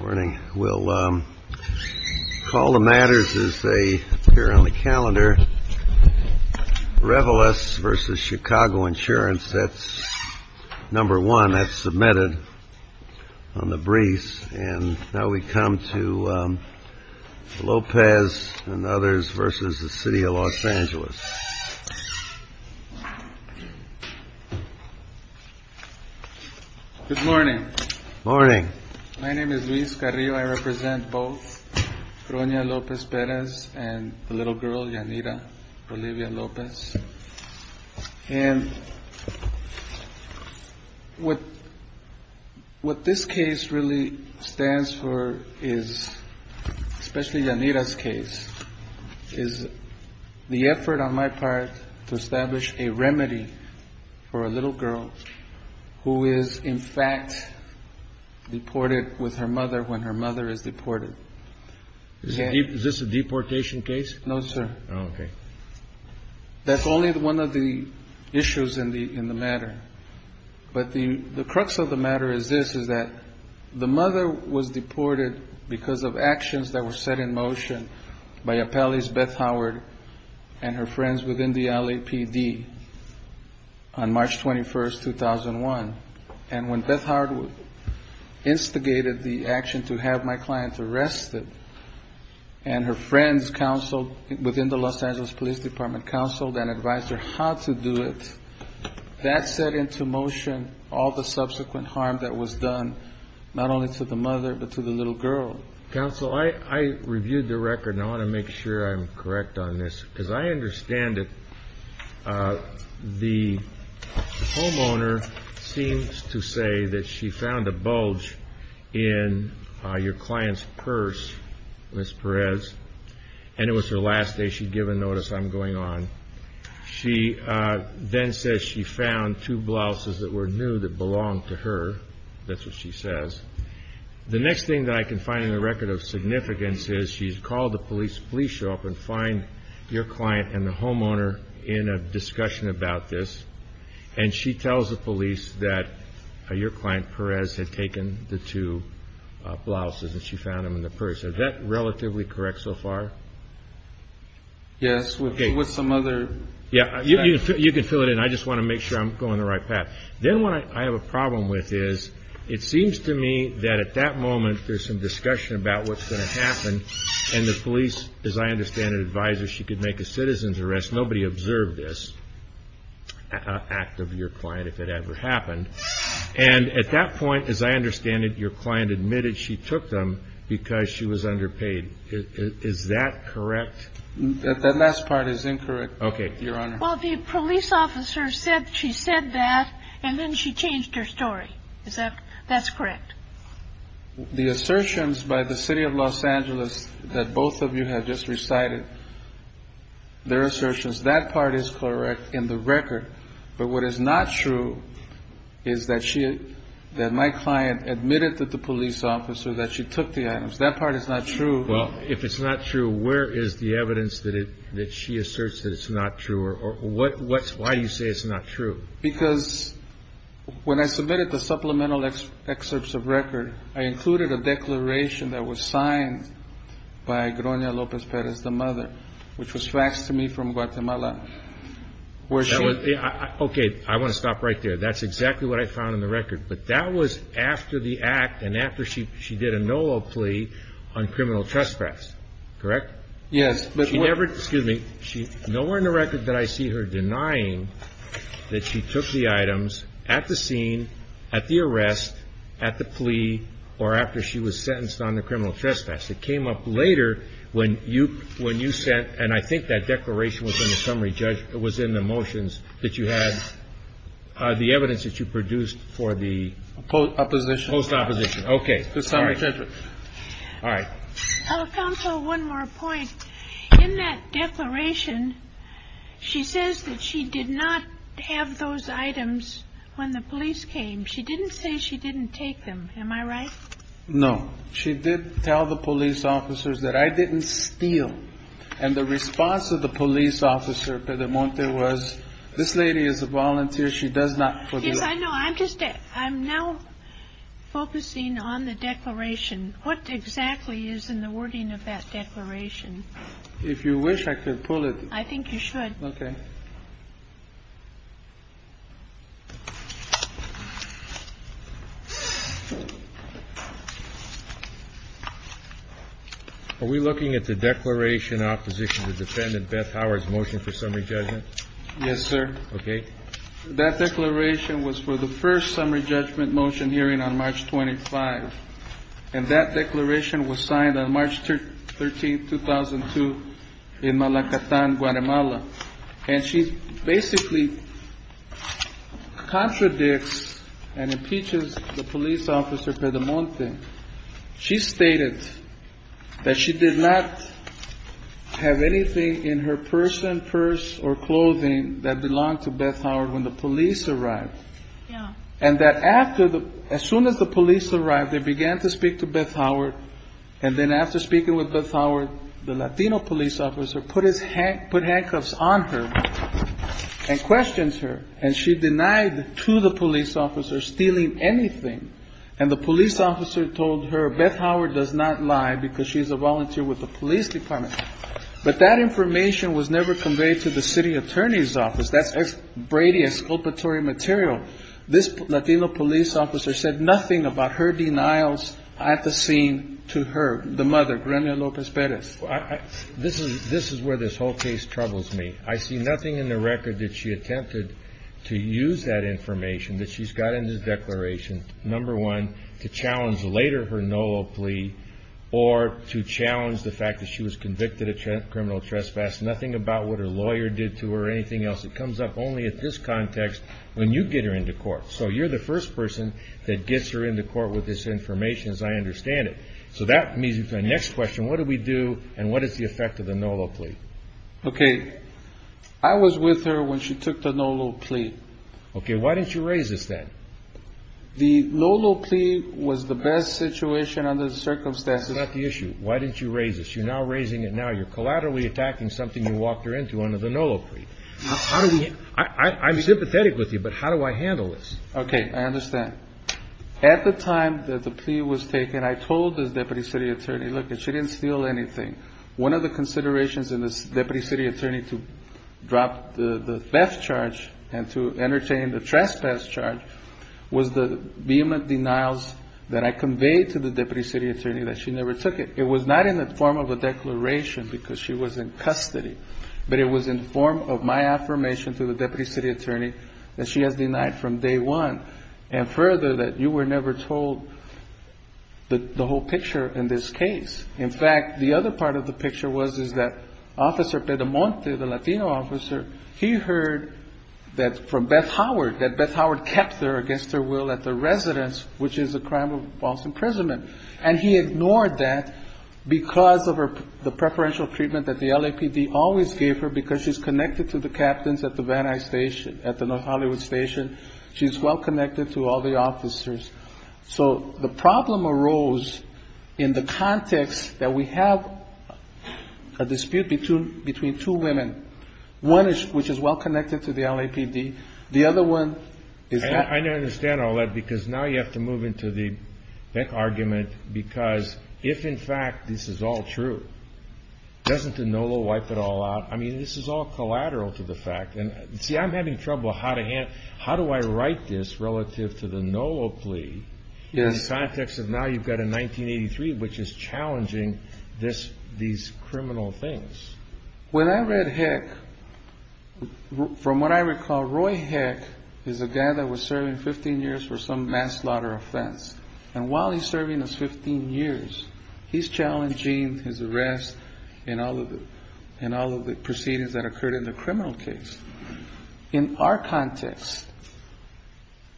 Morning. We'll call the matters as they appear on the calendar. Revelous versus Chicago insurance. That's number one that's submitted on the briefs. And now we come to Lopez and others versus the city of Los Angeles. Good morning. Morning. My name is Luis Carrillo. I represent both. And what this case really stands for is, especially Janita's case, is the effort on my part to establish a remedy for a little girl who is in fact deported with her mother when her mother is deported. Is this a deportation case? No, sir. Okay. That's only one of the issues in the in the matter. But the crux of the matter is this, is that the mother was deported because of actions that were set in motion by Appellee's Beth Howard and her friends within the LAPD. March 21st, 2001. And when Beth Howard instigated the action to have my client arrested and her friends counseled within the Los Angeles Police Department, counseled and advised her how to do it, that set into motion all the subsequent harm that was done not only to the mother but to the little girl. Counsel, I reviewed the record and I want to make sure I'm correct on this because I understand it. The homeowner seems to say that she found a bulge in your client's purse, Miss Perez, and it was her last day she'd given notice I'm going on. She then says she found two blouses that were new that belonged to her. That's what she says. The next thing that I can find in the record of significance is she's called the police. Please show up and find your client and the homeowner in a discussion about this. And she tells the police that your client Perez had taken the two blouses and she found them in the purse. Is that relatively correct so far? Yes, with some other. Yeah, you can fill it in. I just want to make sure I'm going the right path. Then what I have a problem with is it seems to me that at that moment there's some discussion about what's going to happen. And the police, as I understand it, advised her she could make a citizen's arrest. Nobody observed this act of your client if it ever happened. And at that point, as I understand it, your client admitted she took them because she was underpaid. Is that correct? That last part is incorrect. OK. Your Honor. Well, the police officer said she said that and then she changed her story. Is that that's correct? The assertions by the city of Los Angeles that both of you have just recited. Their assertions, that part is correct in the record. But what is not true is that she that my client admitted that the police officer that she took the items. That part is not true. Well, if it's not true, where is the evidence that it that she asserts that it's not true or what? Why do you say it's not true? Because when I submitted the supplemental excerpts of record, I included a declaration that was signed by Grona Lopez Perez, the mother, which was faxed to me from Guatemala. OK. I want to stop right there. That's exactly what I found in the record. But that was after the act and after she she did a no plea on criminal trespass. Correct. Yes. But she never. Excuse me. She's nowhere in the record that I see her denying that she took the items at the scene, at the arrest, at the plea or after she was sentenced on the criminal trespass. It came up later when you when you said and I think that declaration was in the summary judge. It was in the motions that you had the evidence that you produced for the opposition post opposition. OK. All right. All right. Council. One more point in that declaration. She says that she did not have those items when the police came. She didn't say she didn't take them. Am I right? No. She did tell the police officers that I didn't steal. And the response of the police officer to the month there was this lady is a volunteer. She does not know. I'm just I'm now focusing on the declaration. What exactly is in the wording of that declaration? If you wish, I could pull it. I think you should. OK. Are we looking at the declaration opposition to defendant Beth Howard's motion for summary judgment? Yes, sir. OK. That declaration was for the first summary judgment motion hearing on March 25. And that declaration was signed on March 13th, 2002 in Malacatan, Guatemala. And she basically contradicts and impeaches the police officer for the month. She stated that she did not have anything in her person, purse or clothing that belonged to Beth Howard when the police arrived. And that after the as soon as the police arrived, they began to speak to Beth Howard. And then after speaking with Beth Howard, the Latino police officer put his hand, put handcuffs on her and questions her. And she denied to the police officer stealing anything. And the police officer told her Beth Howard does not lie because she's a volunteer with the police department. But that information was never conveyed to the city attorney's office. That's Brady esculpatory material. This Latino police officer said nothing about her denials at the scene to her. The mother, Gremio Lopez Perez. This is this is where this whole case troubles me. I see nothing in the record that she attempted to use that information that she's got in this declaration. Number one, to challenge later her NOLO plea or to challenge the fact that she was convicted of criminal trespass. Nothing about what her lawyer did to her or anything else. It comes up only at this context when you get her into court. So you're the first person that gets her into court with this information, as I understand it. So that means the next question, what do we do and what is the effect of the NOLO plea? OK, I was with her when she took the NOLO plea. OK, why didn't you raise this then? The NOLO plea was the best situation under the circumstances. That's not the issue. Why didn't you raise this? You're now raising it now. You're collaterally attacking something you walked her into under the NOLO plea. I'm sympathetic with you, but how do I handle this? OK, I understand. At the time that the plea was taken, I told the deputy city attorney, look, she didn't steal anything. One of the considerations in this deputy city attorney to drop the theft charge and to entertain the trespass charge was the vehement denials that I conveyed to the deputy city attorney that she never took it. It was not in the form of a declaration because she was in custody, but it was in the form of my affirmation to the deputy city attorney that she has denied from day one and further that you were never told the whole picture in this case. In fact, the other part of the picture was that Officer Pedamonte, the Latino officer, he heard from Beth Howard that Beth Howard kept her against her will at the residence, which is a crime of false imprisonment. And he ignored that because of the preferential treatment that the LAPD always gave her because she's connected to the captains at the Van Nuys station, at the North Hollywood station. She's well-connected to all the officers. So the problem arose in the context that we have a dispute between two women, one which is well-connected to the LAPD. The other one is not. I understand all that because now you have to move into the argument because if in fact this is all true, doesn't the NOLA wipe it all out? I mean, this is all collateral to the fact. See, I'm having trouble. How do I write this relative to the NOLA plea in the context of now you've got a 1983, which is challenging these criminal things? When I read Heck, from what I recall, Roy Heck is a guy that was serving 15 years for some mass slaughter offense. And while he's serving his 15 years, he's challenging his arrest in all of the proceedings that occurred in the criminal case. In our context,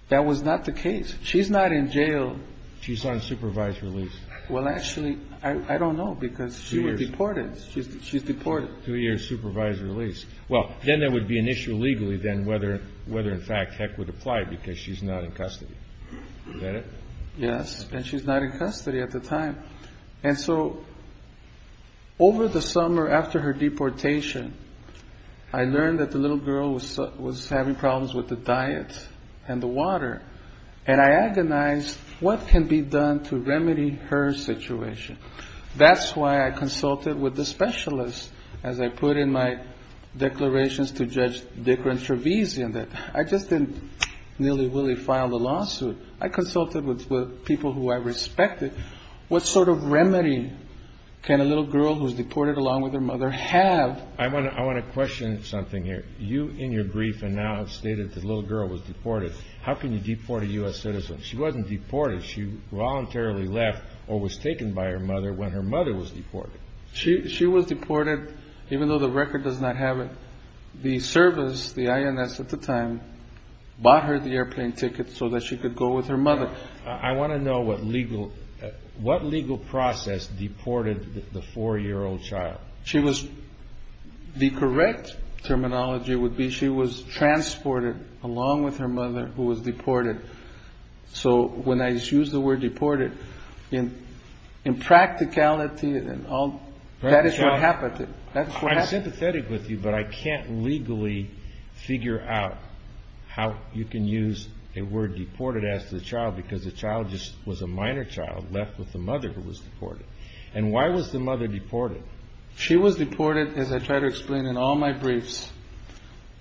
that was not the case. She's not in jail. She's on supervised release. Well, actually, I don't know because she was deported. Two years. She's deported. Two years, supervised release. Well, then there would be an issue legally then whether in fact Heck would apply because she's not in custody. Is that it? Yes, and she's not in custody at the time. And so over the summer after her deportation, I learned that the little girl was having problems with the diet and the water, and I agonized what can be done to remedy her situation. That's why I consulted with the specialist, as I put in my declarations to Judge Dickren-Travese in that I just didn't nilly-willy file a lawsuit. I consulted with people who I respected. What sort of remedy can a little girl who's deported along with her mother have? I want to question something here. You, in your grief, have now stated the little girl was deported. How can you deport a U.S. citizen? She wasn't deported. She voluntarily left or was taken by her mother when her mother was deported. She was deported even though the record does not have it. The service, the INS at the time, bought her the airplane ticket so that she could go with her mother. I want to know what legal process deported the 4-year-old child. The correct terminology would be she was transported along with her mother who was deported. So when I use the word deported, impracticality and all, that is what happened. I'm sympathetic with you, but I can't legally figure out how you can use a word deported as to the child because the child was a minor child left with the mother who was deported. And why was the mother deported? She was deported, as I try to explain in all my briefs,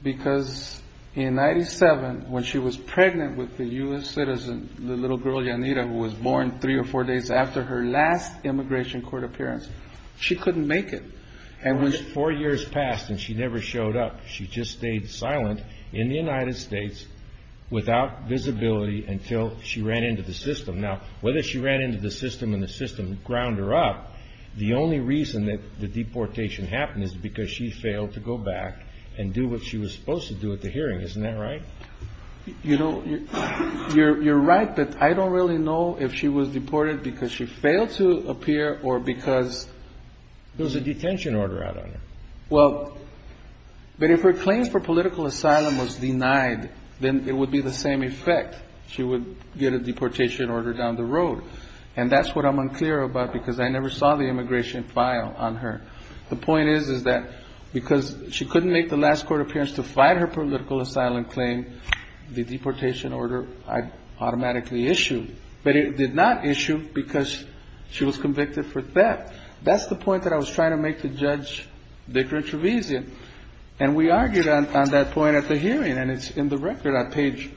because in 1997 when she was pregnant with the U.S. citizen, the little girl, Yanira, who was born 3 or 4 days after her last immigration court appearance, she couldn't make it. Four years passed and she never showed up. She just stayed silent in the United States without visibility until she ran into the system. Now, whether she ran into the system and the system ground her up, the only reason that the deportation happened is because she failed to go back and do what she was supposed to do at the hearing. Isn't that right? You know, you're right, but I don't really know if she was deported because she failed to appear or because there was a detention order out on her. Well, but if her claim for political asylum was denied, then it would be the same effect. She would get a deportation order down the road. And that's what I'm unclear about because I never saw the immigration file on her. The point is that because she couldn't make the last court appearance to fight her political asylum claim, the deportation order I'd automatically issue. But it did not issue because she was convicted for theft. That's the point that I was trying to make to Judge Victor Trevisan. And we argued on that point at the hearing, and it's in the record on page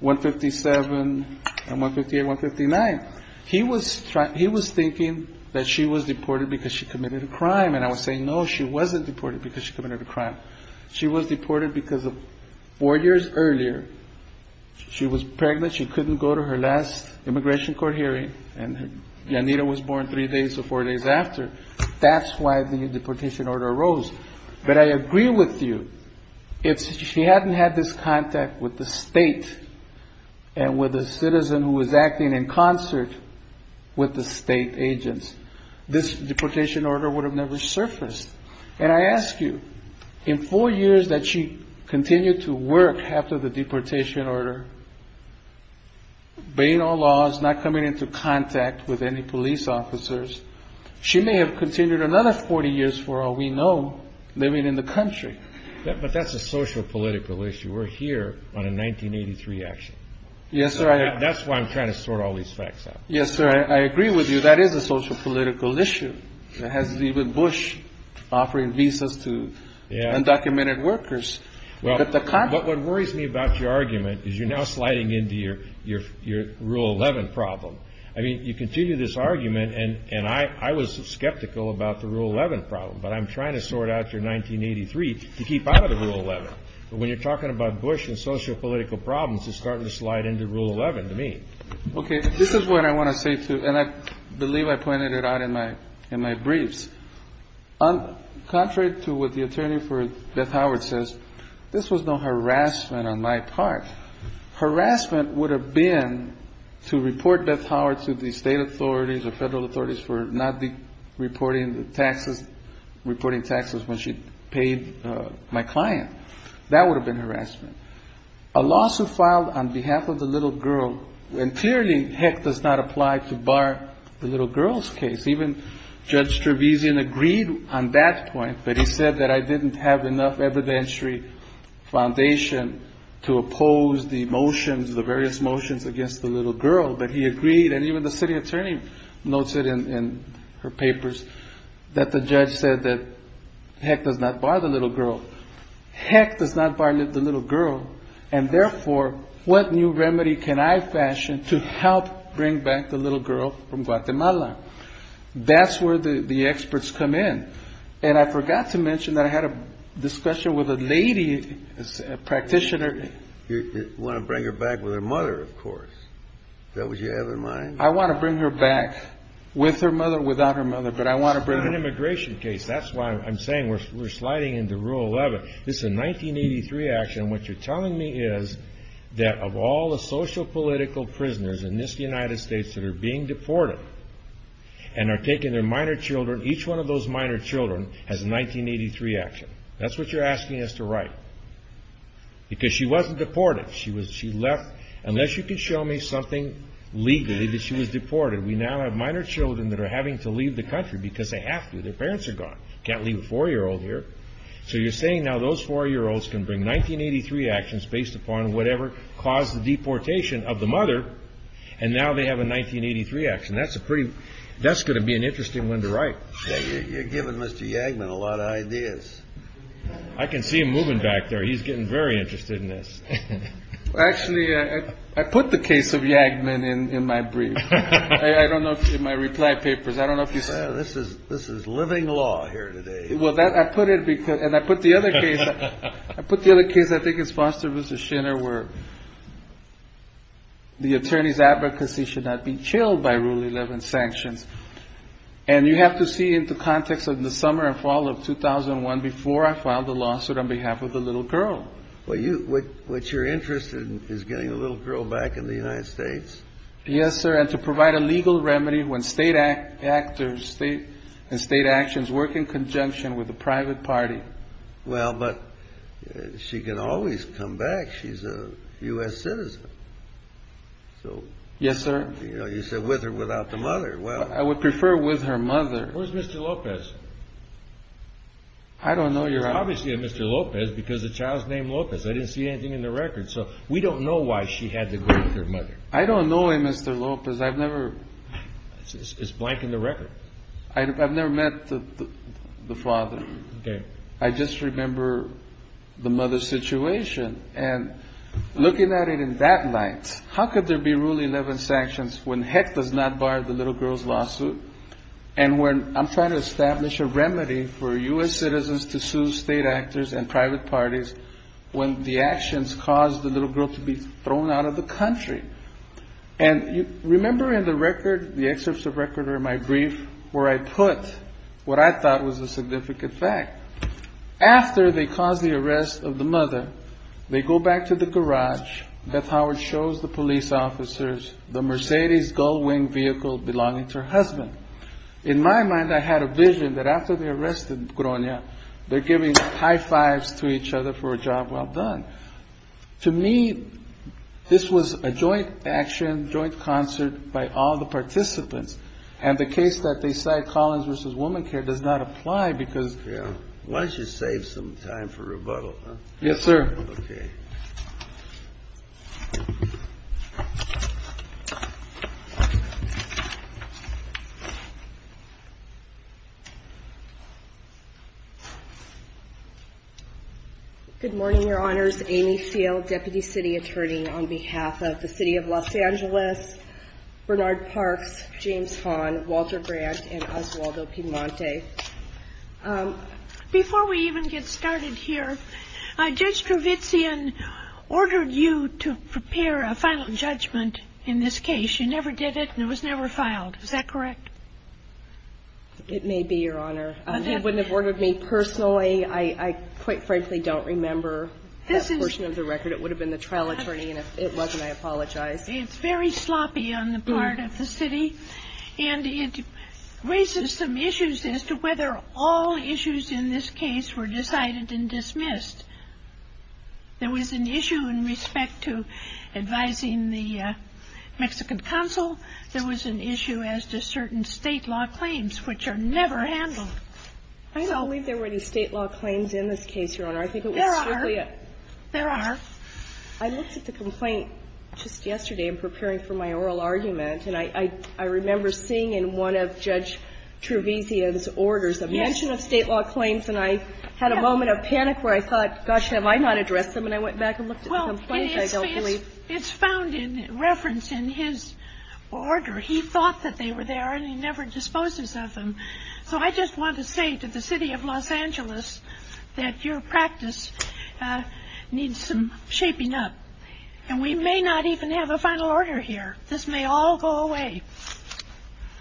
157 and 158, 159. He was thinking that she was deported because she committed a crime. And I was saying, no, she wasn't deported because she committed a crime. She was deported because four years earlier she was pregnant. She couldn't go to her last immigration court hearing. And Yanira was born three days or four days after. That's why the deportation order arose. But I agree with you. If she hadn't had this contact with the state and with a citizen who was acting in concert with the state agents, this deportation order would have never surfaced. And I ask you, in four years that she continued to work after the deportation order, obeying all laws, not coming into contact with any police officers, she may have continued another 40 years for all we know living in the country. But that's a social political issue. We're here on a 1983 action. Yes, sir. That's why I'm trying to sort all these facts out. Yes, sir. I agree with you. That is a social political issue. It has to do with Bush offering visas to undocumented workers. But what worries me about your argument is you're now sliding into your Rule 11 problem. I mean, you continue this argument, and I was skeptical about the Rule 11 problem. But I'm trying to sort out your 1983 to keep out of the Rule 11. But when you're talking about Bush and social political problems, it's starting to slide into Rule 11 to me. Okay. This is what I want to say, too, and I believe I pointed it out in my briefs. Contrary to what the attorney for Beth Howard says, this was no harassment on my part. Harassment would have been to report Beth Howard to the state authorities or federal authorities for not reporting taxes when she paid my client. That would have been harassment. A lawsuit filed on behalf of the little girl, and clearly, heck, does not apply to bar the little girl's case. Even Judge Trevisan agreed on that point, but he said that I didn't have enough evidentiary foundation to oppose the motions, the various motions against the little girl. But he agreed, and even the city attorney notes it in her papers, that the judge said that heck does not bar the little girl. Heck does not bar the little girl, and therefore, what new remedy can I fashion to help bring back the little girl from Guatemala? That's where the experts come in, and I forgot to mention that I had a discussion with a lady practitioner. You want to bring her back with her mother, of course. Does that what you have in mind? I want to bring her back with her mother or without her mother, but I want to bring her back. It's an immigration case. That's why I'm saying we're sliding into Rule 11. This is a 1983 action, and what you're telling me is that of all the sociopolitical prisoners in this United States that are being deported and are taking their minor children, each one of those minor children has a 1983 action. That's what you're asking us to write, because she wasn't deported. Unless you can show me something legally that she was deported, we now have minor children that are having to leave the country because they have to. Their parents are gone. Can't leave a four-year-old here. So you're saying now those four-year-olds can bring 1983 actions based upon whatever caused the deportation of the mother, and now they have a 1983 action. That's going to be an interesting one to write. You're giving Mr. Yagman a lot of ideas. I can see him moving back there. He's getting very interested in this. Actually, I put the case of Yagman in my brief. I don't know if it's in my reply papers. This is living law here today. I put the other case, I think it's Foster v. Schinner, where the attorney's advocacy should not be chilled by Rule 11 sanctions. And you have to see it in the context of the summer and fall of 2001 before I filed the lawsuit on behalf of the little girl. What you're interested in is getting the little girl back in the United States? Yes, sir, and to provide a legal remedy when state actors and state actions work in conjunction with the private party. Well, but she can always come back. She's a U.S. citizen. Yes, sir. You said with or without the mother. Where's Mr. Lopez? I don't know. You're obviously a Mr. Lopez because the child's name is Lopez. I didn't see anything in the record, so we don't know why she had to go with her mother. I don't know a Mr. Lopez. It's blank in the record. I've never met the father. I just remember the mother's situation. And looking at it in that light, how could there be Rule 11 sanctions when Heck does not bar the little girl's lawsuit? And when I'm trying to establish a remedy for U.S. citizens to sue state actors and private parties when the actions cause the little girl to be thrown out of the country. And remember in the record, the excerpts of record are in my brief, where I put what I thought was a significant fact. After they cause the arrest of the mother, they go back to the garage. Beth Howard shows the police officers the Mercedes Gullwing vehicle belonging to her husband. In my mind, I had a vision that after they arrested Gronia, they're giving high fives to each other for a job well done. To me, this was a joint action, joint concert by all the participants. And the case that they cite, Collins v. Womancare, does not apply because. So, yes, sir. Good morning, your honors. My name is Amy Seale, Deputy City Attorney on behalf of the City of Los Angeles, Bernard Parks, James Hahn, Walter Brandt, and Oswaldo Piemonte. Before we even get started here, Judge Trevizan ordered you to prepare a final judgment in this case. You never did it, and it was never filed. Is that correct? It may be, your honor. He wouldn't have ordered me personally. I quite frankly don't remember. That portion of the record, it would have been the trial attorney, and if it wasn't, I apologize. It's very sloppy on the part of the city, and it raises some issues as to whether all issues in this case were decided and dismissed. There was an issue in respect to advising the Mexican Consul. There was an issue as to certain state law claims, which are never handled. I don't believe there were any state law claims in this case, your honor. There are. There are. I looked at the complaint just yesterday in preparing for my oral argument, and I remember seeing in one of Judge Trevizan's orders a mention of state law claims, and I had a moment of panic where I thought, gosh, have I not addressed them? And I went back and looked at the complaint. Well, it's found in reference in his order. He thought that they were there, and he never disposes of them. So I just want to say to the city of Los Angeles that your practice needs some shaping up. And we may not even have a final order here. This may all go away.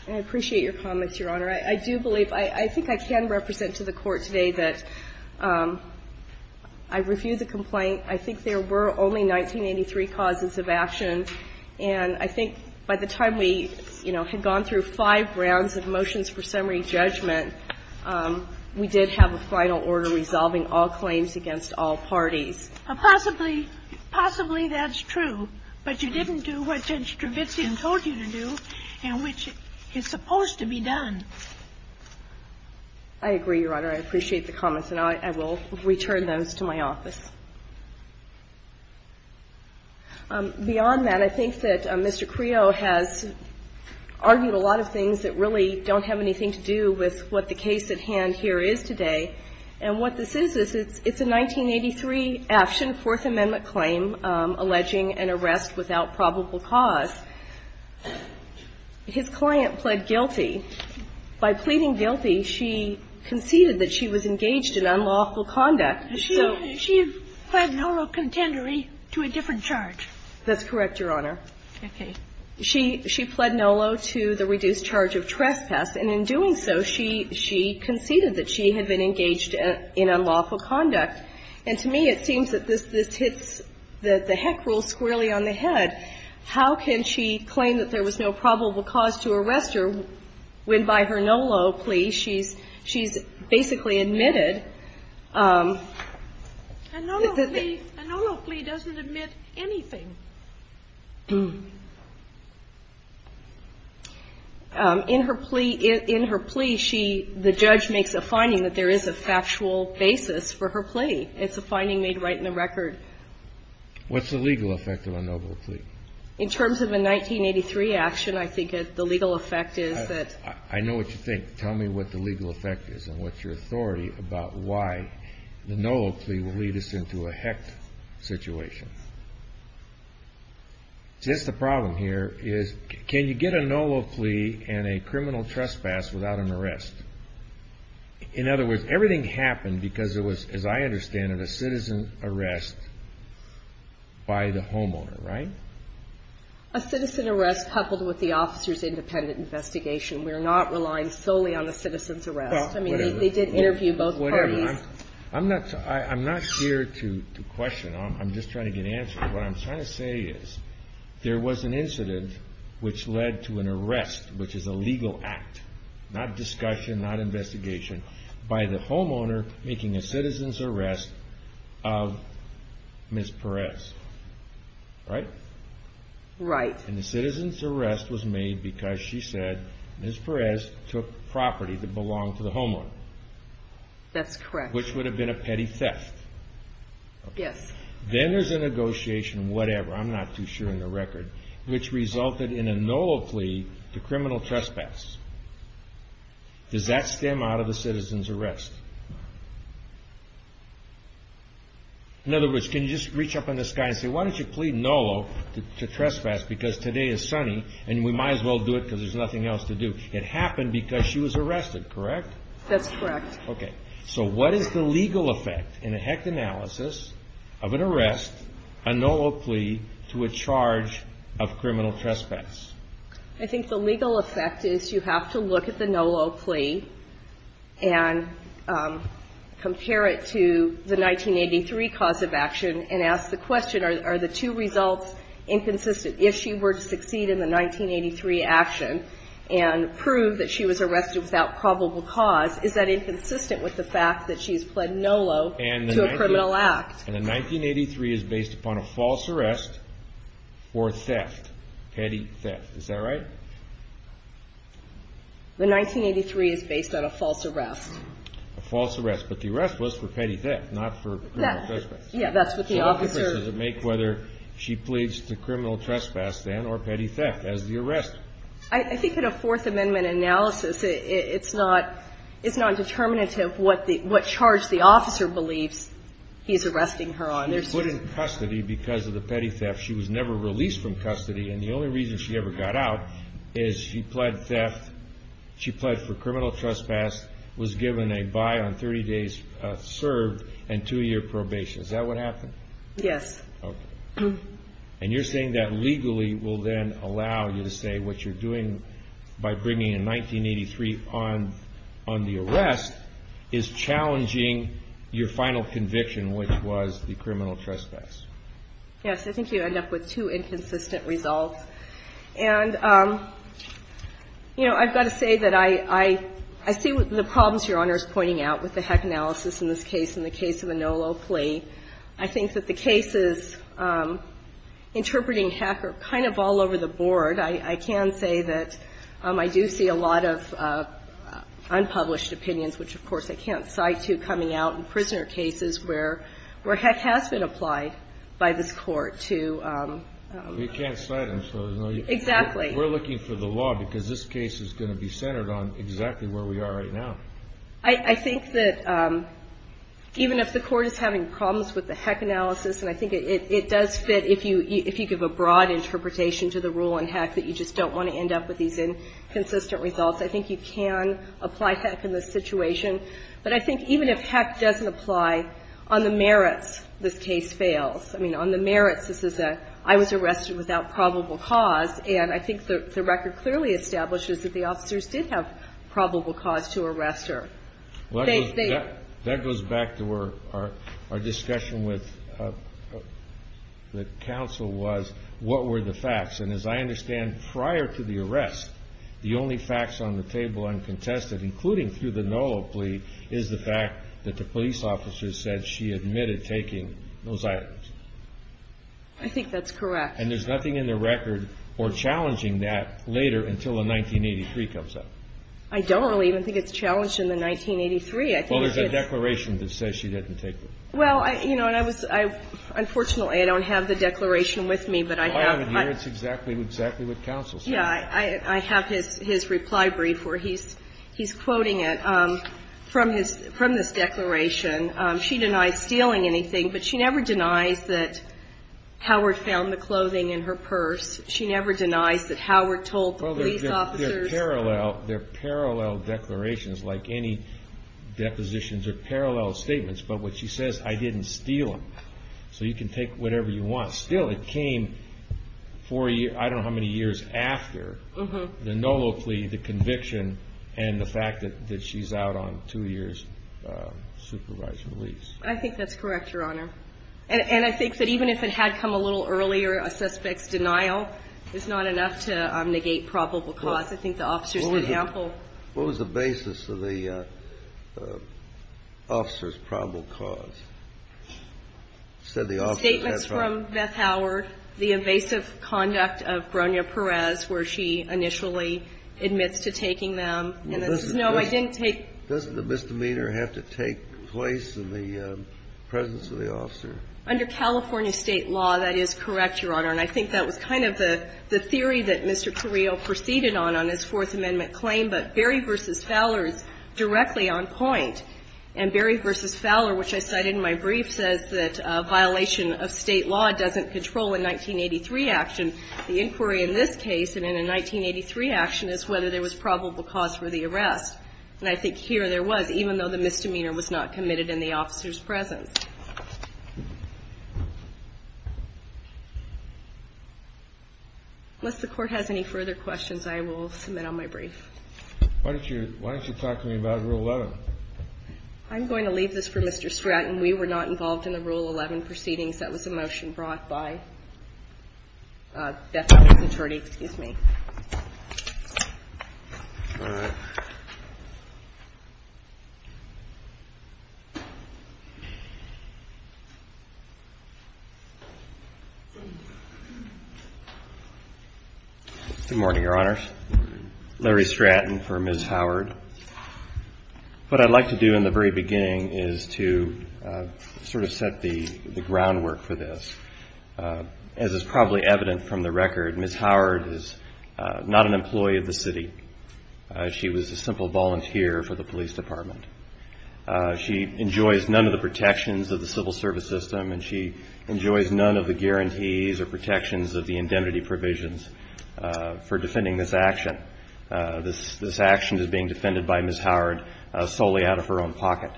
I appreciate your comments, your honor. I do believe, I think I can represent to the Court today that I refuse a complaint. I think there were only 1983 causes of action. And I think by the time we, you know, had gone through five rounds of motions for summary judgment, we did have a final order resolving all claims against all parties. Possibly, possibly that's true. But you didn't do what Judge Trevizan told you to do and which is supposed to be done. I agree, your honor. I appreciate the comments, and I will return those to my office. Beyond that, I think that Mr. Creo has argued a lot of things that really don't have anything to do with what the case at hand here is today. And what this is, is it's a 1983 action, Fourth Amendment claim alleging an arrest without probable cause. His client pled guilty. By pleading guilty, she conceded that she was engaged in unlawful conduct. She pled NOLO contendery to a different charge. That's correct, your honor. Okay. She pled NOLO to the reduced charge of trespass. And in doing so, she conceded that she had been engaged in unlawful conduct. And to me, it seems that this hits the heck rule squarely on the head. How can she claim that there was no probable cause to arrest her when by her NOLO plea, she's basically admitted. A NOLO plea doesn't admit anything. In her plea, she, the judge makes a finding that there is a factual basis for her plea. It's a finding made right in the record. What's the legal effect of a NOLO plea? In terms of a 1983 action, I think the legal effect is that. I know what you think. Tell me what the legal effect is and what's your authority about why the NOLO plea will lead us into a heck situation. See, that's the problem here is can you get a NOLO plea and a criminal trespass without an arrest? In other words, everything happened because it was, as I understand it, a citizen arrest by the homeowner, right? A citizen arrest coupled with the officer's independent investigation. We're not relying solely on a citizen's arrest. I mean, they did interview both parties. I'm not here to question. I'm just trying to get answers. What I'm trying to say is there was an incident which led to an arrest, which is a legal act, not discussion, not investigation, by the homeowner making a citizen's arrest of Ms. Perez, right? Right. And the citizen's arrest was made because she said Ms. Perez took property that belonged to the homeowner. That's correct. Which would have been a petty theft. Yes. Then there's a negotiation, whatever, I'm not too sure in the record, which resulted in a NOLO plea to criminal trespass. Does that stem out of the citizen's arrest? In other words, can you just reach up on this guy and say, why don't you plea NOLO to trespass because today is sunny and we might as well do it because there's nothing else to do? It happened because she was arrested, correct? That's correct. Okay. So what is the legal effect in a HECT analysis of an arrest, a NOLO plea to a charge of criminal trespass? I think the legal effect is you have to look at the NOLO plea and compare it to the 1983 cause of action and ask the question, are the two results inconsistent? If she were to succeed in the 1983 action and prove that she was arrested without probable cause, is that inconsistent with the fact that she's pled NOLO to a criminal act? And the 1983 is based upon a false arrest or theft, petty theft. Is that right? The 1983 is based on a false arrest. A false arrest. But the arrest was for petty theft, not for criminal trespass. Yeah, that's what the officer ---- So what difference does it make whether she pleads to criminal trespass then or petty theft as the arrest? I think in a Fourth Amendment analysis, it's not determinative what charge the officer believes he's arresting her on. She was put in custody because of the petty theft. She was never released from custody. And the only reason she ever got out is she pled theft, she pled for criminal trespass, was given a buy on 30 days served and two-year probation. Is that what happened? Yes. Okay. And you're saying that legally will then allow you to say what you're doing by bringing in 1983 on the arrest is challenging your final conviction, which was the criminal trespass. Yes. I think you end up with two inconsistent results. And, you know, I've got to say that I see the problems Your Honor is pointing out with the Heck analysis in this case, in the case of a NOLO plea. I think that the cases interpreting Heck are kind of all over the board. I can say that I do see a lot of unpublished opinions, which, of course, I can't cite to coming out in prisoner cases where Heck has been applied by this Court to. You can't cite them. Exactly. We're looking for the law because this case is going to be centered on exactly where we are right now. I think that even if the Court is having problems with the Heck analysis, and I think it does fit if you give a broad interpretation to the rule in Heck that you just don't want to end up with these inconsistent results, I think you can apply Heck in this situation. But I think even if Heck doesn't apply, on the merits, this case fails. I mean, on the merits, this is a, I was arrested without probable cause, and I think the record clearly establishes that the officers did have probable cause to arrest her. That goes back to our discussion with the counsel was, what were the facts? And as I understand, prior to the arrest, the only facts on the table uncontested, including through the NOLO plea, is the fact that the police officer said she admitted taking those items. I think that's correct. And there's nothing in the record or challenging that later until the 1983 comes up. I don't really even think it's challenged in the 1983. Well, there's a declaration that says she didn't take them. Well, you know, and I was, unfortunately, I don't have the declaration with me, but I have. I have it here. It's exactly what counsel said. Yeah. I have his reply brief where he's quoting it from this declaration. She denies stealing anything, but she never denies that Howard found the clothing in her purse. She never denies that Howard told the police officers. Well, they're parallel declarations like any depositions or parallel statements, but what she says, I didn't steal them. So you can take whatever you want. Still, it came four, I don't know how many years after the NOLO plea, the conviction, and the fact that she's out on two years' supervised release. I think that's correct, Your Honor. And I think that even if it had come a little earlier, a suspect's denial is not enough to negate probable cause. I think the officers did ample. What was the basis of the officers' probable cause? The statements from Beth Howard, the evasive conduct of Bronya Perez, where she initially admits to taking them. No, I didn't take. Doesn't the misdemeanor have to take place in the presence of the officer? Under California State law, that is correct, Your Honor. And I think that was kind of the theory that Mr. Carrillo proceeded on on his Fourth Amendment claim. But Berry v. Fowler is directly on point. And Berry v. Fowler, which I cited in my brief, says that violation of State law doesn't control a 1983 action. The inquiry in this case, and in a 1983 action, is whether there was probable cause for the arrest. And I think here there was, even though the misdemeanor was not committed in the officer's presence. Unless the Court has any further questions, I will submit on my brief. Why don't you talk to me about Rule 11? I'm going to leave this for Mr. Stratton. We were not involved in the Rule 11 proceedings. That was a motion brought by Bethel's attorney. Excuse me. All right. Good morning, Your Honors. Good morning. Larry Stratton for Ms. Howard. What I'd like to do in the very beginning is to sort of set the groundwork for this. As is probably evident from the record, Ms. Howard is not an employee of the city. She was a simple volunteer for the police department. She enjoys none of the protections of the civil service system, and she enjoys none of the guarantees or protections of the indemnity provisions for defending this action. This action is being defended by Ms. Howard solely out of her own pocket.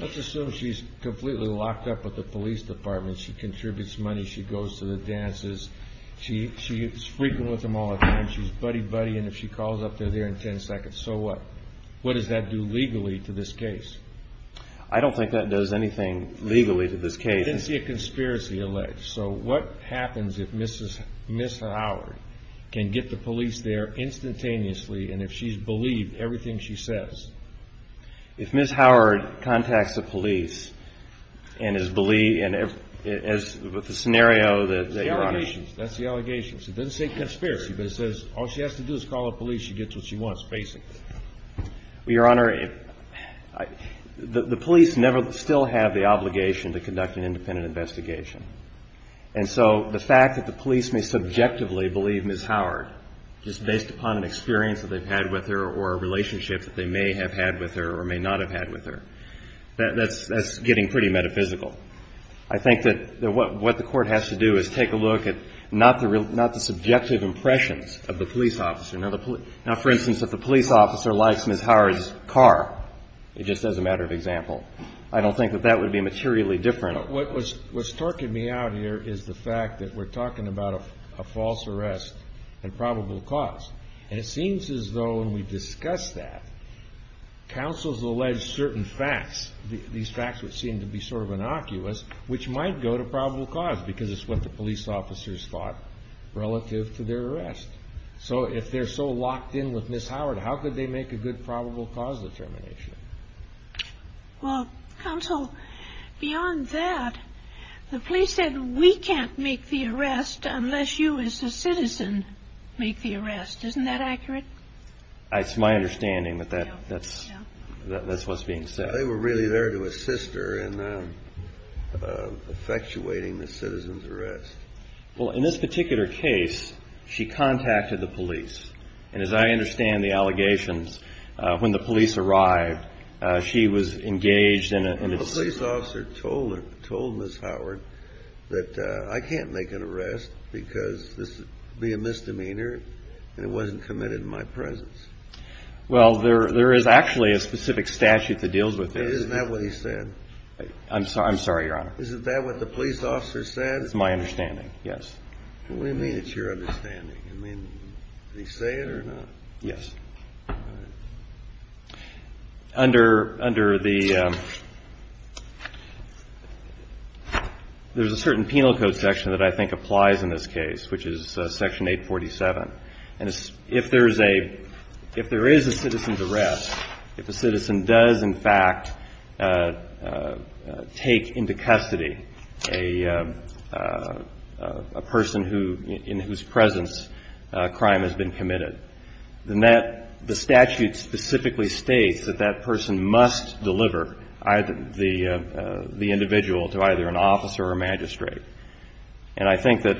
Let's assume she's completely locked up with the police department. She contributes money. She goes to the dances. She's frequent with them all the time. She's buddy-buddy, and if she calls up, they're there in 10 seconds. So what? What does that do legally to this case? I don't think that does anything legally to this case. I didn't see a conspiracy alleged. So what happens if Ms. Howard can get the police there instantaneously and if she's believed everything she says? If Ms. Howard contacts the police and is believed as with the scenario that your Honor. That's the allegations. It doesn't say conspiracy, but it says all she has to do is call the police. She gets what she wants, basically. Your Honor, the police never still have the obligation to conduct an independent investigation. And so the fact that the police may subjectively believe Ms. Howard just based upon an experience that they've had with her or a relationship that they may have had with her or may not have had with her, that's getting pretty metaphysical. I think that what the Court has to do is take a look at not the subjective impressions of the police officer. Now, for instance, if the police officer likes Ms. Howard's car, just as a matter of example, I don't think that that would be materially different. What's talking me out here is the fact that we're talking about a false arrest and probable cause. And it seems as though when we discuss that, counsels allege certain facts, these facts which seem to be sort of innocuous, which might go to probable cause because it's what the police officers thought relative to their arrest. So if they're so locked in with Ms. Howard, how could they make a good probable cause determination? Well, counsel, beyond that, the police said we can't make the arrest unless you as a citizen make the arrest. Isn't that accurate? It's my understanding that that's what's being said. They were really there to assist her in effectuating the citizen's arrest. Well, in this particular case, she contacted the police. And as I understand the allegations, when the police arrived, she was engaged in a A police officer told Ms. Howard that I can't make an arrest because this would be a misdemeanor and it wasn't committed in my presence. Well, there is actually a specific statute that deals with this. Isn't that what he said? I'm sorry, Your Honor. Isn't that what the police officer said? That's my understanding, yes. Well, we mean it's your understanding. I mean, did he say it or not? Yes. All right. Under the – there's a certain penal code section that I think applies in this case, which is Section 847. And if there is a citizen's arrest, if a citizen does, in fact, take into custody a person who – in whose presence a crime has been committed, then that – the statute specifically states that that person must deliver the individual to either an officer or magistrate. And I think that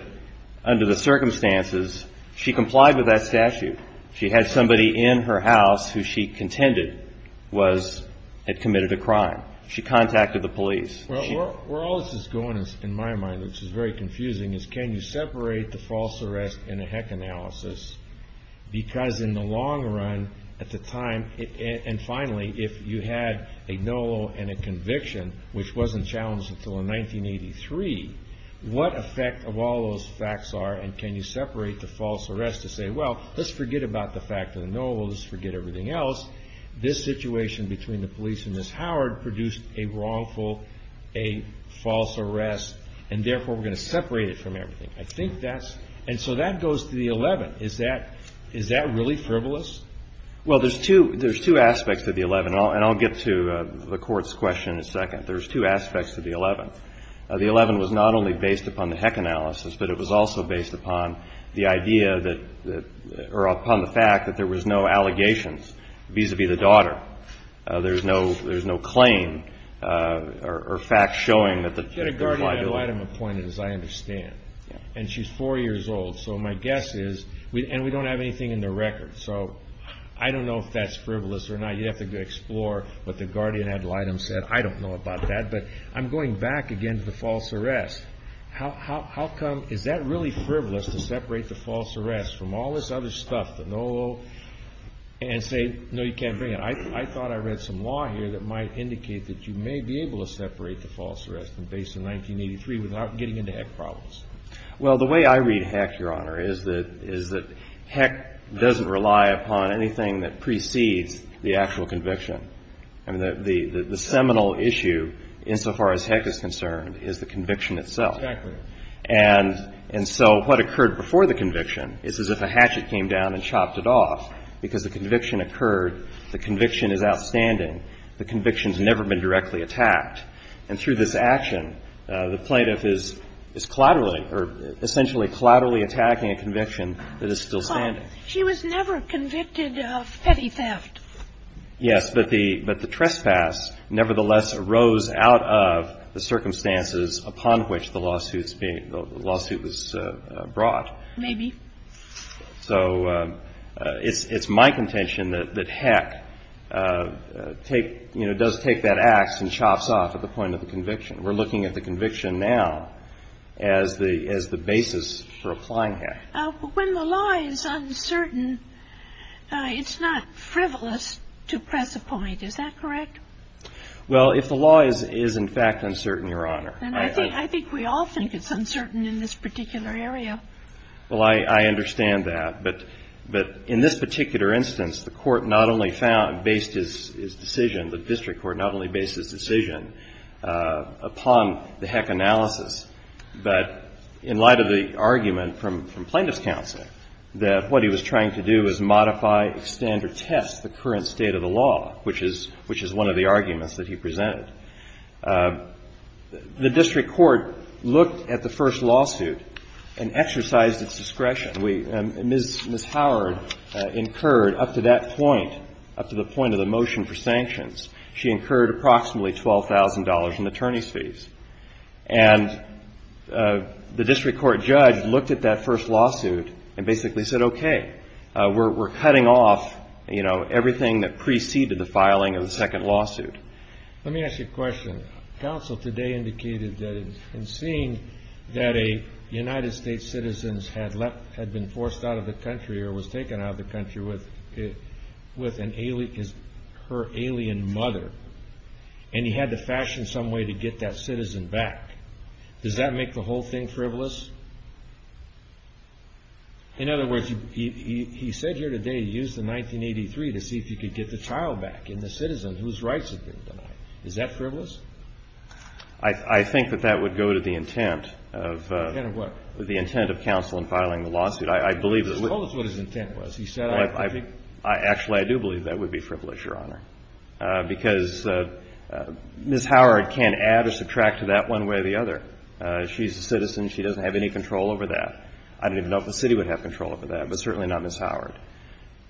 under the circumstances, she complied with that statute. She had somebody in her house who she contended was – had committed a crime. She contacted the police. Well, where all this is going, in my mind, which is very confusing, is can you separate the false arrest and a heck analysis? Because in the long run, at the time – and finally, if you had a no and a conviction, which wasn't challenged until in 1983, what effect of all those facts are, and can you separate the false arrest to say, well, let's forget about the fact of the no, we'll just forget everything else. This situation between the police and Ms. Howard produced a wrongful, a false arrest, and therefore we're going to separate it from everything. I think that's – and so that goes to the 11th. Is that – is that really frivolous? Well, there's two – there's two aspects to the 11th, and I'll get to the Court's question in a second. There's two aspects to the 11th. The 11th was not only based upon the heck analysis, but it was also based upon the idea that – or upon the fact that there was no allegations vis-à-vis the daughter. There's no – there's no claim or fact showing that the – She had a guardian ad litem appointed, as I understand, and she's four years old, so my guess is – and we don't have anything in the record, so I don't know if that's frivolous or not. You'd have to explore what the guardian ad litem said. I don't know about that, but I'm going back again to the false arrest. How come – is that really frivolous to separate the false arrest from all this other stuff that no – and say, no, you can't bring it? I thought I read some law here that might indicate that you may be able to separate the false arrest based on 1983 without getting into heck problems. Well, the way I read heck, Your Honor, is that – is that heck doesn't rely upon anything that precedes the actual conviction. I mean, the seminal issue, insofar as heck is concerned, is the conviction itself. Exactly. And so what occurred before the conviction is as if a hatchet came down and chopped it off, because the conviction occurred. The conviction is outstanding. The conviction's never been directly attacked. And through this action, the plaintiff is collaterally or essentially collaterally attacking a conviction that is still standing. She was never convicted of petty theft. Yes, but the – but the trespass nevertheless arose out of the circumstances upon which the lawsuit's being – the lawsuit was brought. Maybe. So it's my contention that heck take – you know, does take that ax and chops off at the point of the conviction. We're looking at the conviction now as the – as the basis for applying heck. When the law is uncertain, it's not frivolous to press a point. Is that correct? Well, if the law is in fact uncertain, Your Honor. And I think we all think it's uncertain in this particular area. Well, I understand that. But in this particular instance, the court not only found – based his decision, the district court not only based his decision upon the heck analysis, but in light of the argument from plaintiff's counsel that what he was trying to do was modify, extend, or test the current state of the law, which is – which is one of the arguments that he presented. The district court looked at the first lawsuit and exercised its discretion. We – Ms. Howard incurred up to that point, up to the point of the motion for sanctions, she incurred approximately $12,000 in attorney's fees. And the district court judge looked at that first lawsuit and basically said, okay, we're cutting off, you know, everything that preceded the filing of the second lawsuit. Let me ask you a question. Counsel today indicated that in seeing that a United States citizen had left – had been forced out of the country or was taken out of the country with an – her alien mother, and he had to fashion some way to get that citizen back. Does that make the whole thing frivolous? In other words, he said here today he used the 1983 to see if he could get the child back and the citizen whose rights had been denied. Is that frivolous? I think that that would go to the intent of – The intent of what? The intent of counsel in filing the lawsuit. I believe that – Tell us what his intent was. He said – Actually, I do believe that would be frivolous, Your Honor, because Ms. Howard can't add or subtract to that one way or the other. She's a citizen. She doesn't have any control over that. I don't even know if the city would have control over that, but certainly not Ms. Howard.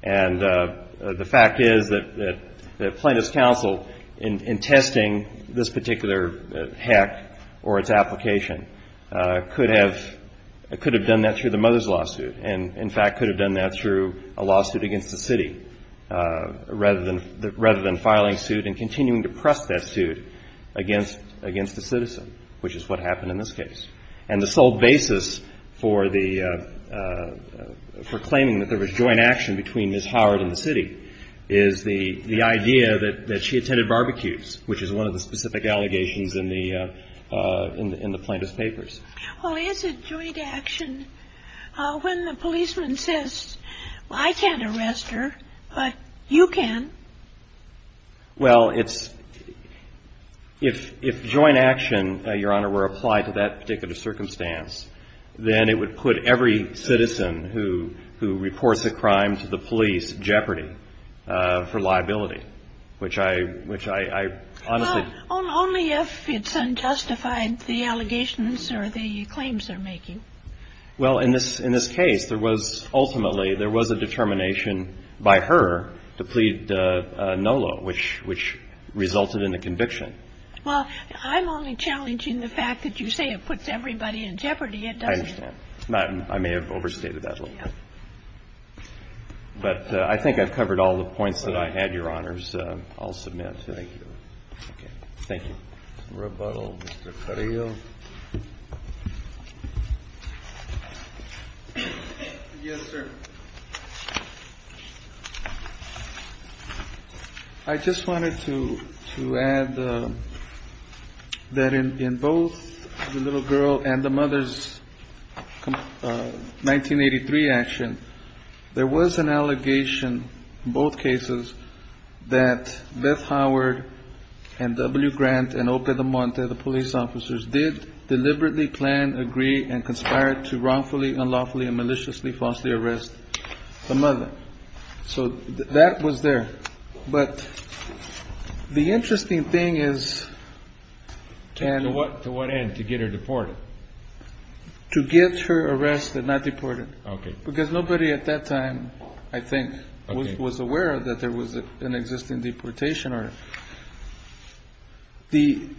And the fact is that plaintiff's counsel, in testing this particular hack or its application, could have done that through the mother's lawsuit and, in fact, could have done that through a lawsuit against the city, rather than filing suit and continuing to press that suit against the citizen, which is what happened in this case. And the sole basis for claiming that there was joint action between Ms. Howard and the city is the idea that she attended barbecues, which is one of the specific allegations in the plaintiff's papers. Well, is it joint action when the policeman says, I can't arrest her, but you can? Well, it's – if joint action, Your Honor, were applied to that particular circumstance, then it would put every citizen who reports a crime to the police in jeopardy for liability, which I honestly – Well, only if it's unjustified, the allegations or the claims they're making. Well, in this case, there was – ultimately, there was a determination by her to plead no law, which resulted in the conviction. Well, I'm only challenging the fact that you say it puts everybody in jeopardy. It doesn't. I understand. I may have overstated that a little bit. Yes. But I think I've covered all the points that I had, Your Honors. I'll submit. Thank you. To rebuttal, Mr. Carrillo. Yes, sir. I just wanted to add that in both the little girl and the mother's 1983 action, there was an allegation in both cases that Beth Howard and W. Grant and Ope Damonte, the police officers, did deliberately plan, agree, and conspire to wrongfully, unlawfully, and maliciously, falsely arrest the mother. So that was there. But the interesting thing is – To what end? To get her deported? To get her arrested, not deported. Okay. Because nobody at that time, I think, was aware that there was an existing deportation order. The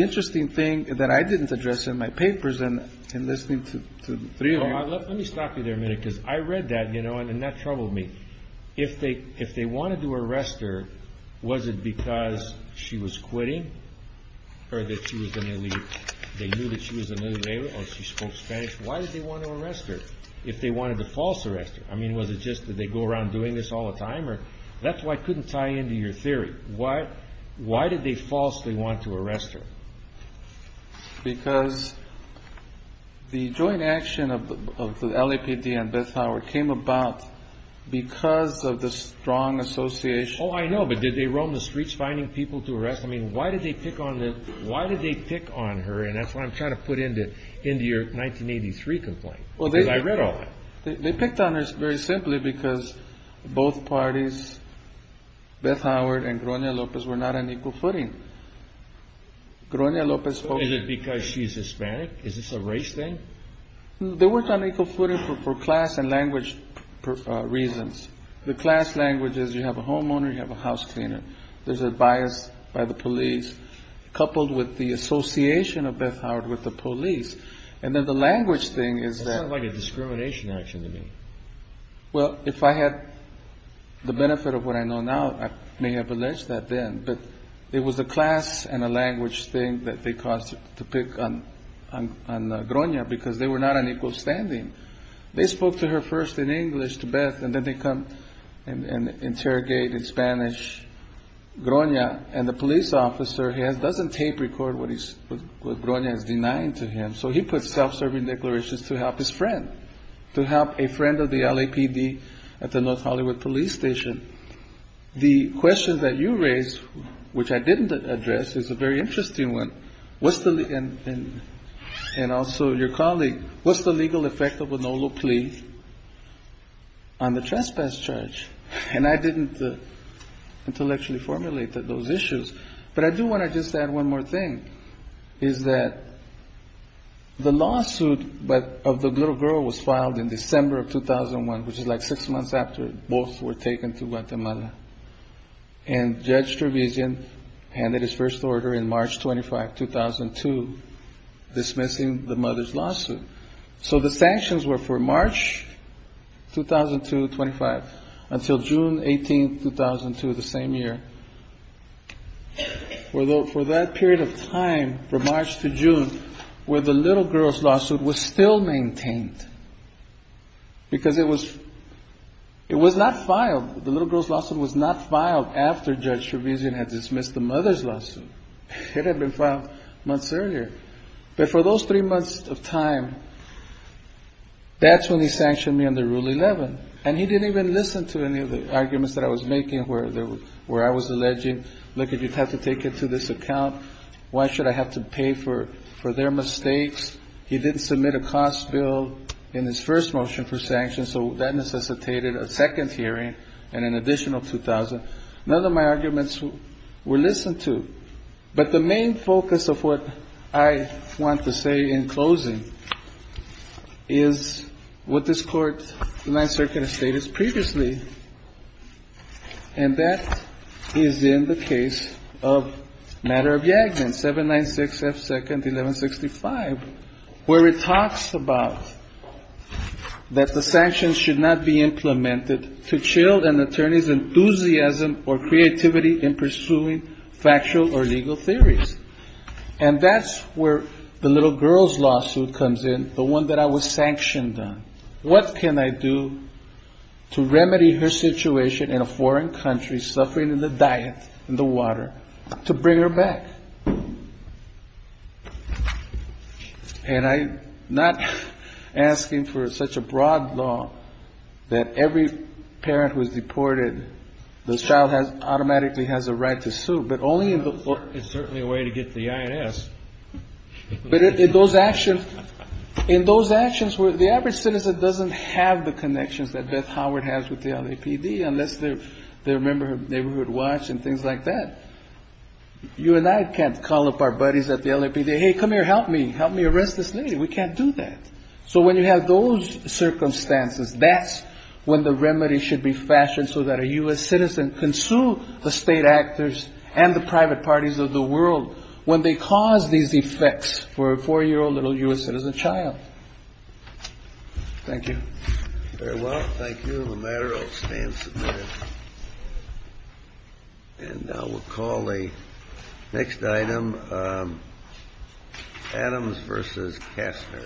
interesting thing that I didn't address in my papers in listening to the three of you – Let me stop you there a minute because I read that, you know, and that troubled me. If they wanted to arrest her, was it because she was quitting or that she was going to leave? They knew that she was a military or she spoke Spanish. Why did they want to arrest her if they wanted to false arrest her? I mean, was it just that they go around doing this all the time? That's why I couldn't tie into your theory. Why did they falsely want to arrest her? Because the joint action of the LAPD and Beth Howard came about because of the strong association. Oh, I know. But did they roam the streets finding people to arrest? I mean, why did they pick on her? And that's what I'm trying to put into your 1983 complaint because I read all that. They picked on her very simply because both parties, Beth Howard and Grona Lopez, were not on equal footing. Is it because she's Hispanic? Is this a race thing? They weren't on equal footing for class and language reasons. The class language is you have a homeowner, you have a house cleaner. There's a bias by the police coupled with the association of Beth Howard with the police. And then the language thing is that... It sounded like a discrimination action to me. Well, if I had the benefit of what I know now, I may have alleged that then. But it was a class and a language thing that they caused to pick on Grona because they were not on equal standing. They spoke to her first in English to Beth and then they come and interrogate in Spanish Grona. And the police officer doesn't tape record what Grona is denying to him. So he puts self-serving declarations to help his friend, to help a friend of the LAPD at the North Hollywood police station. The question that you raised, which I didn't address, is a very interesting one. And also your colleague, what's the legal effect of a NOLO plea on the trespass charge? And I didn't intellectually formulate those issues. But I do want to just add one more thing, is that the lawsuit of the little girl was filed in December of 2001, which is like six months after both were taken to Guatemala. And Judge Trevisan handed his first order in March 25, 2002, dismissing the mother's lawsuit. So the sanctions were for March 2002-25 until June 18, 2002, the same year. For that period of time, from March to June, where the little girl's lawsuit was still maintained because it was not filed. The little girl's lawsuit was not filed after Judge Trevisan had dismissed the mother's lawsuit. It had been filed months earlier. But for those three months of time, that's when he sanctioned me under Rule 11. And he didn't even listen to any of the arguments that I was making, where I was alleging, look, if you have to take it to this account, why should I have to pay for their mistakes? He didn't submit a cost bill in his first motion for sanction. So that necessitated a second hearing and an additional $2,000. None of my arguments were listened to. But the main focus of what I want to say in closing is what this Court, the Ninth Circuit, has stated previously. And that is in the case of Matter of Jagdman, 796 F. 2nd, 1165, where it talks about that the sanctions should not be implemented to chill an attorney's enthusiasm or creativity in pursuing factual or legal theories. And that's where the little girl's lawsuit comes in, the one that I was sanctioned on. What can I do to remedy her situation in a foreign country, suffering in the diet, in the water, to bring her back? And I'm not asking for such a broad law that every parent who is deported, the child automatically has a right to sue. But only in the court. It's certainly a way to get to the I.N.S. But in those actions where the average citizen doesn't have the connections that Beth Howard has with the LAPD, unless they're a member of Neighborhood Watch and things like that, you and I can't call up our buddies at the LAPD, hey, come here, help me, help me arrest this lady. We can't do that. So when you have those circumstances, that's when the remedy should be fashioned so that a U.S. citizen can sue the state actors and the private parties of the world when they cause these effects for a four-year-old little U.S. citizen child. Thank you. Very well. Thank you. The matter will stand submitted. And now we'll call the next item, Adams versus Kastner. Thank you.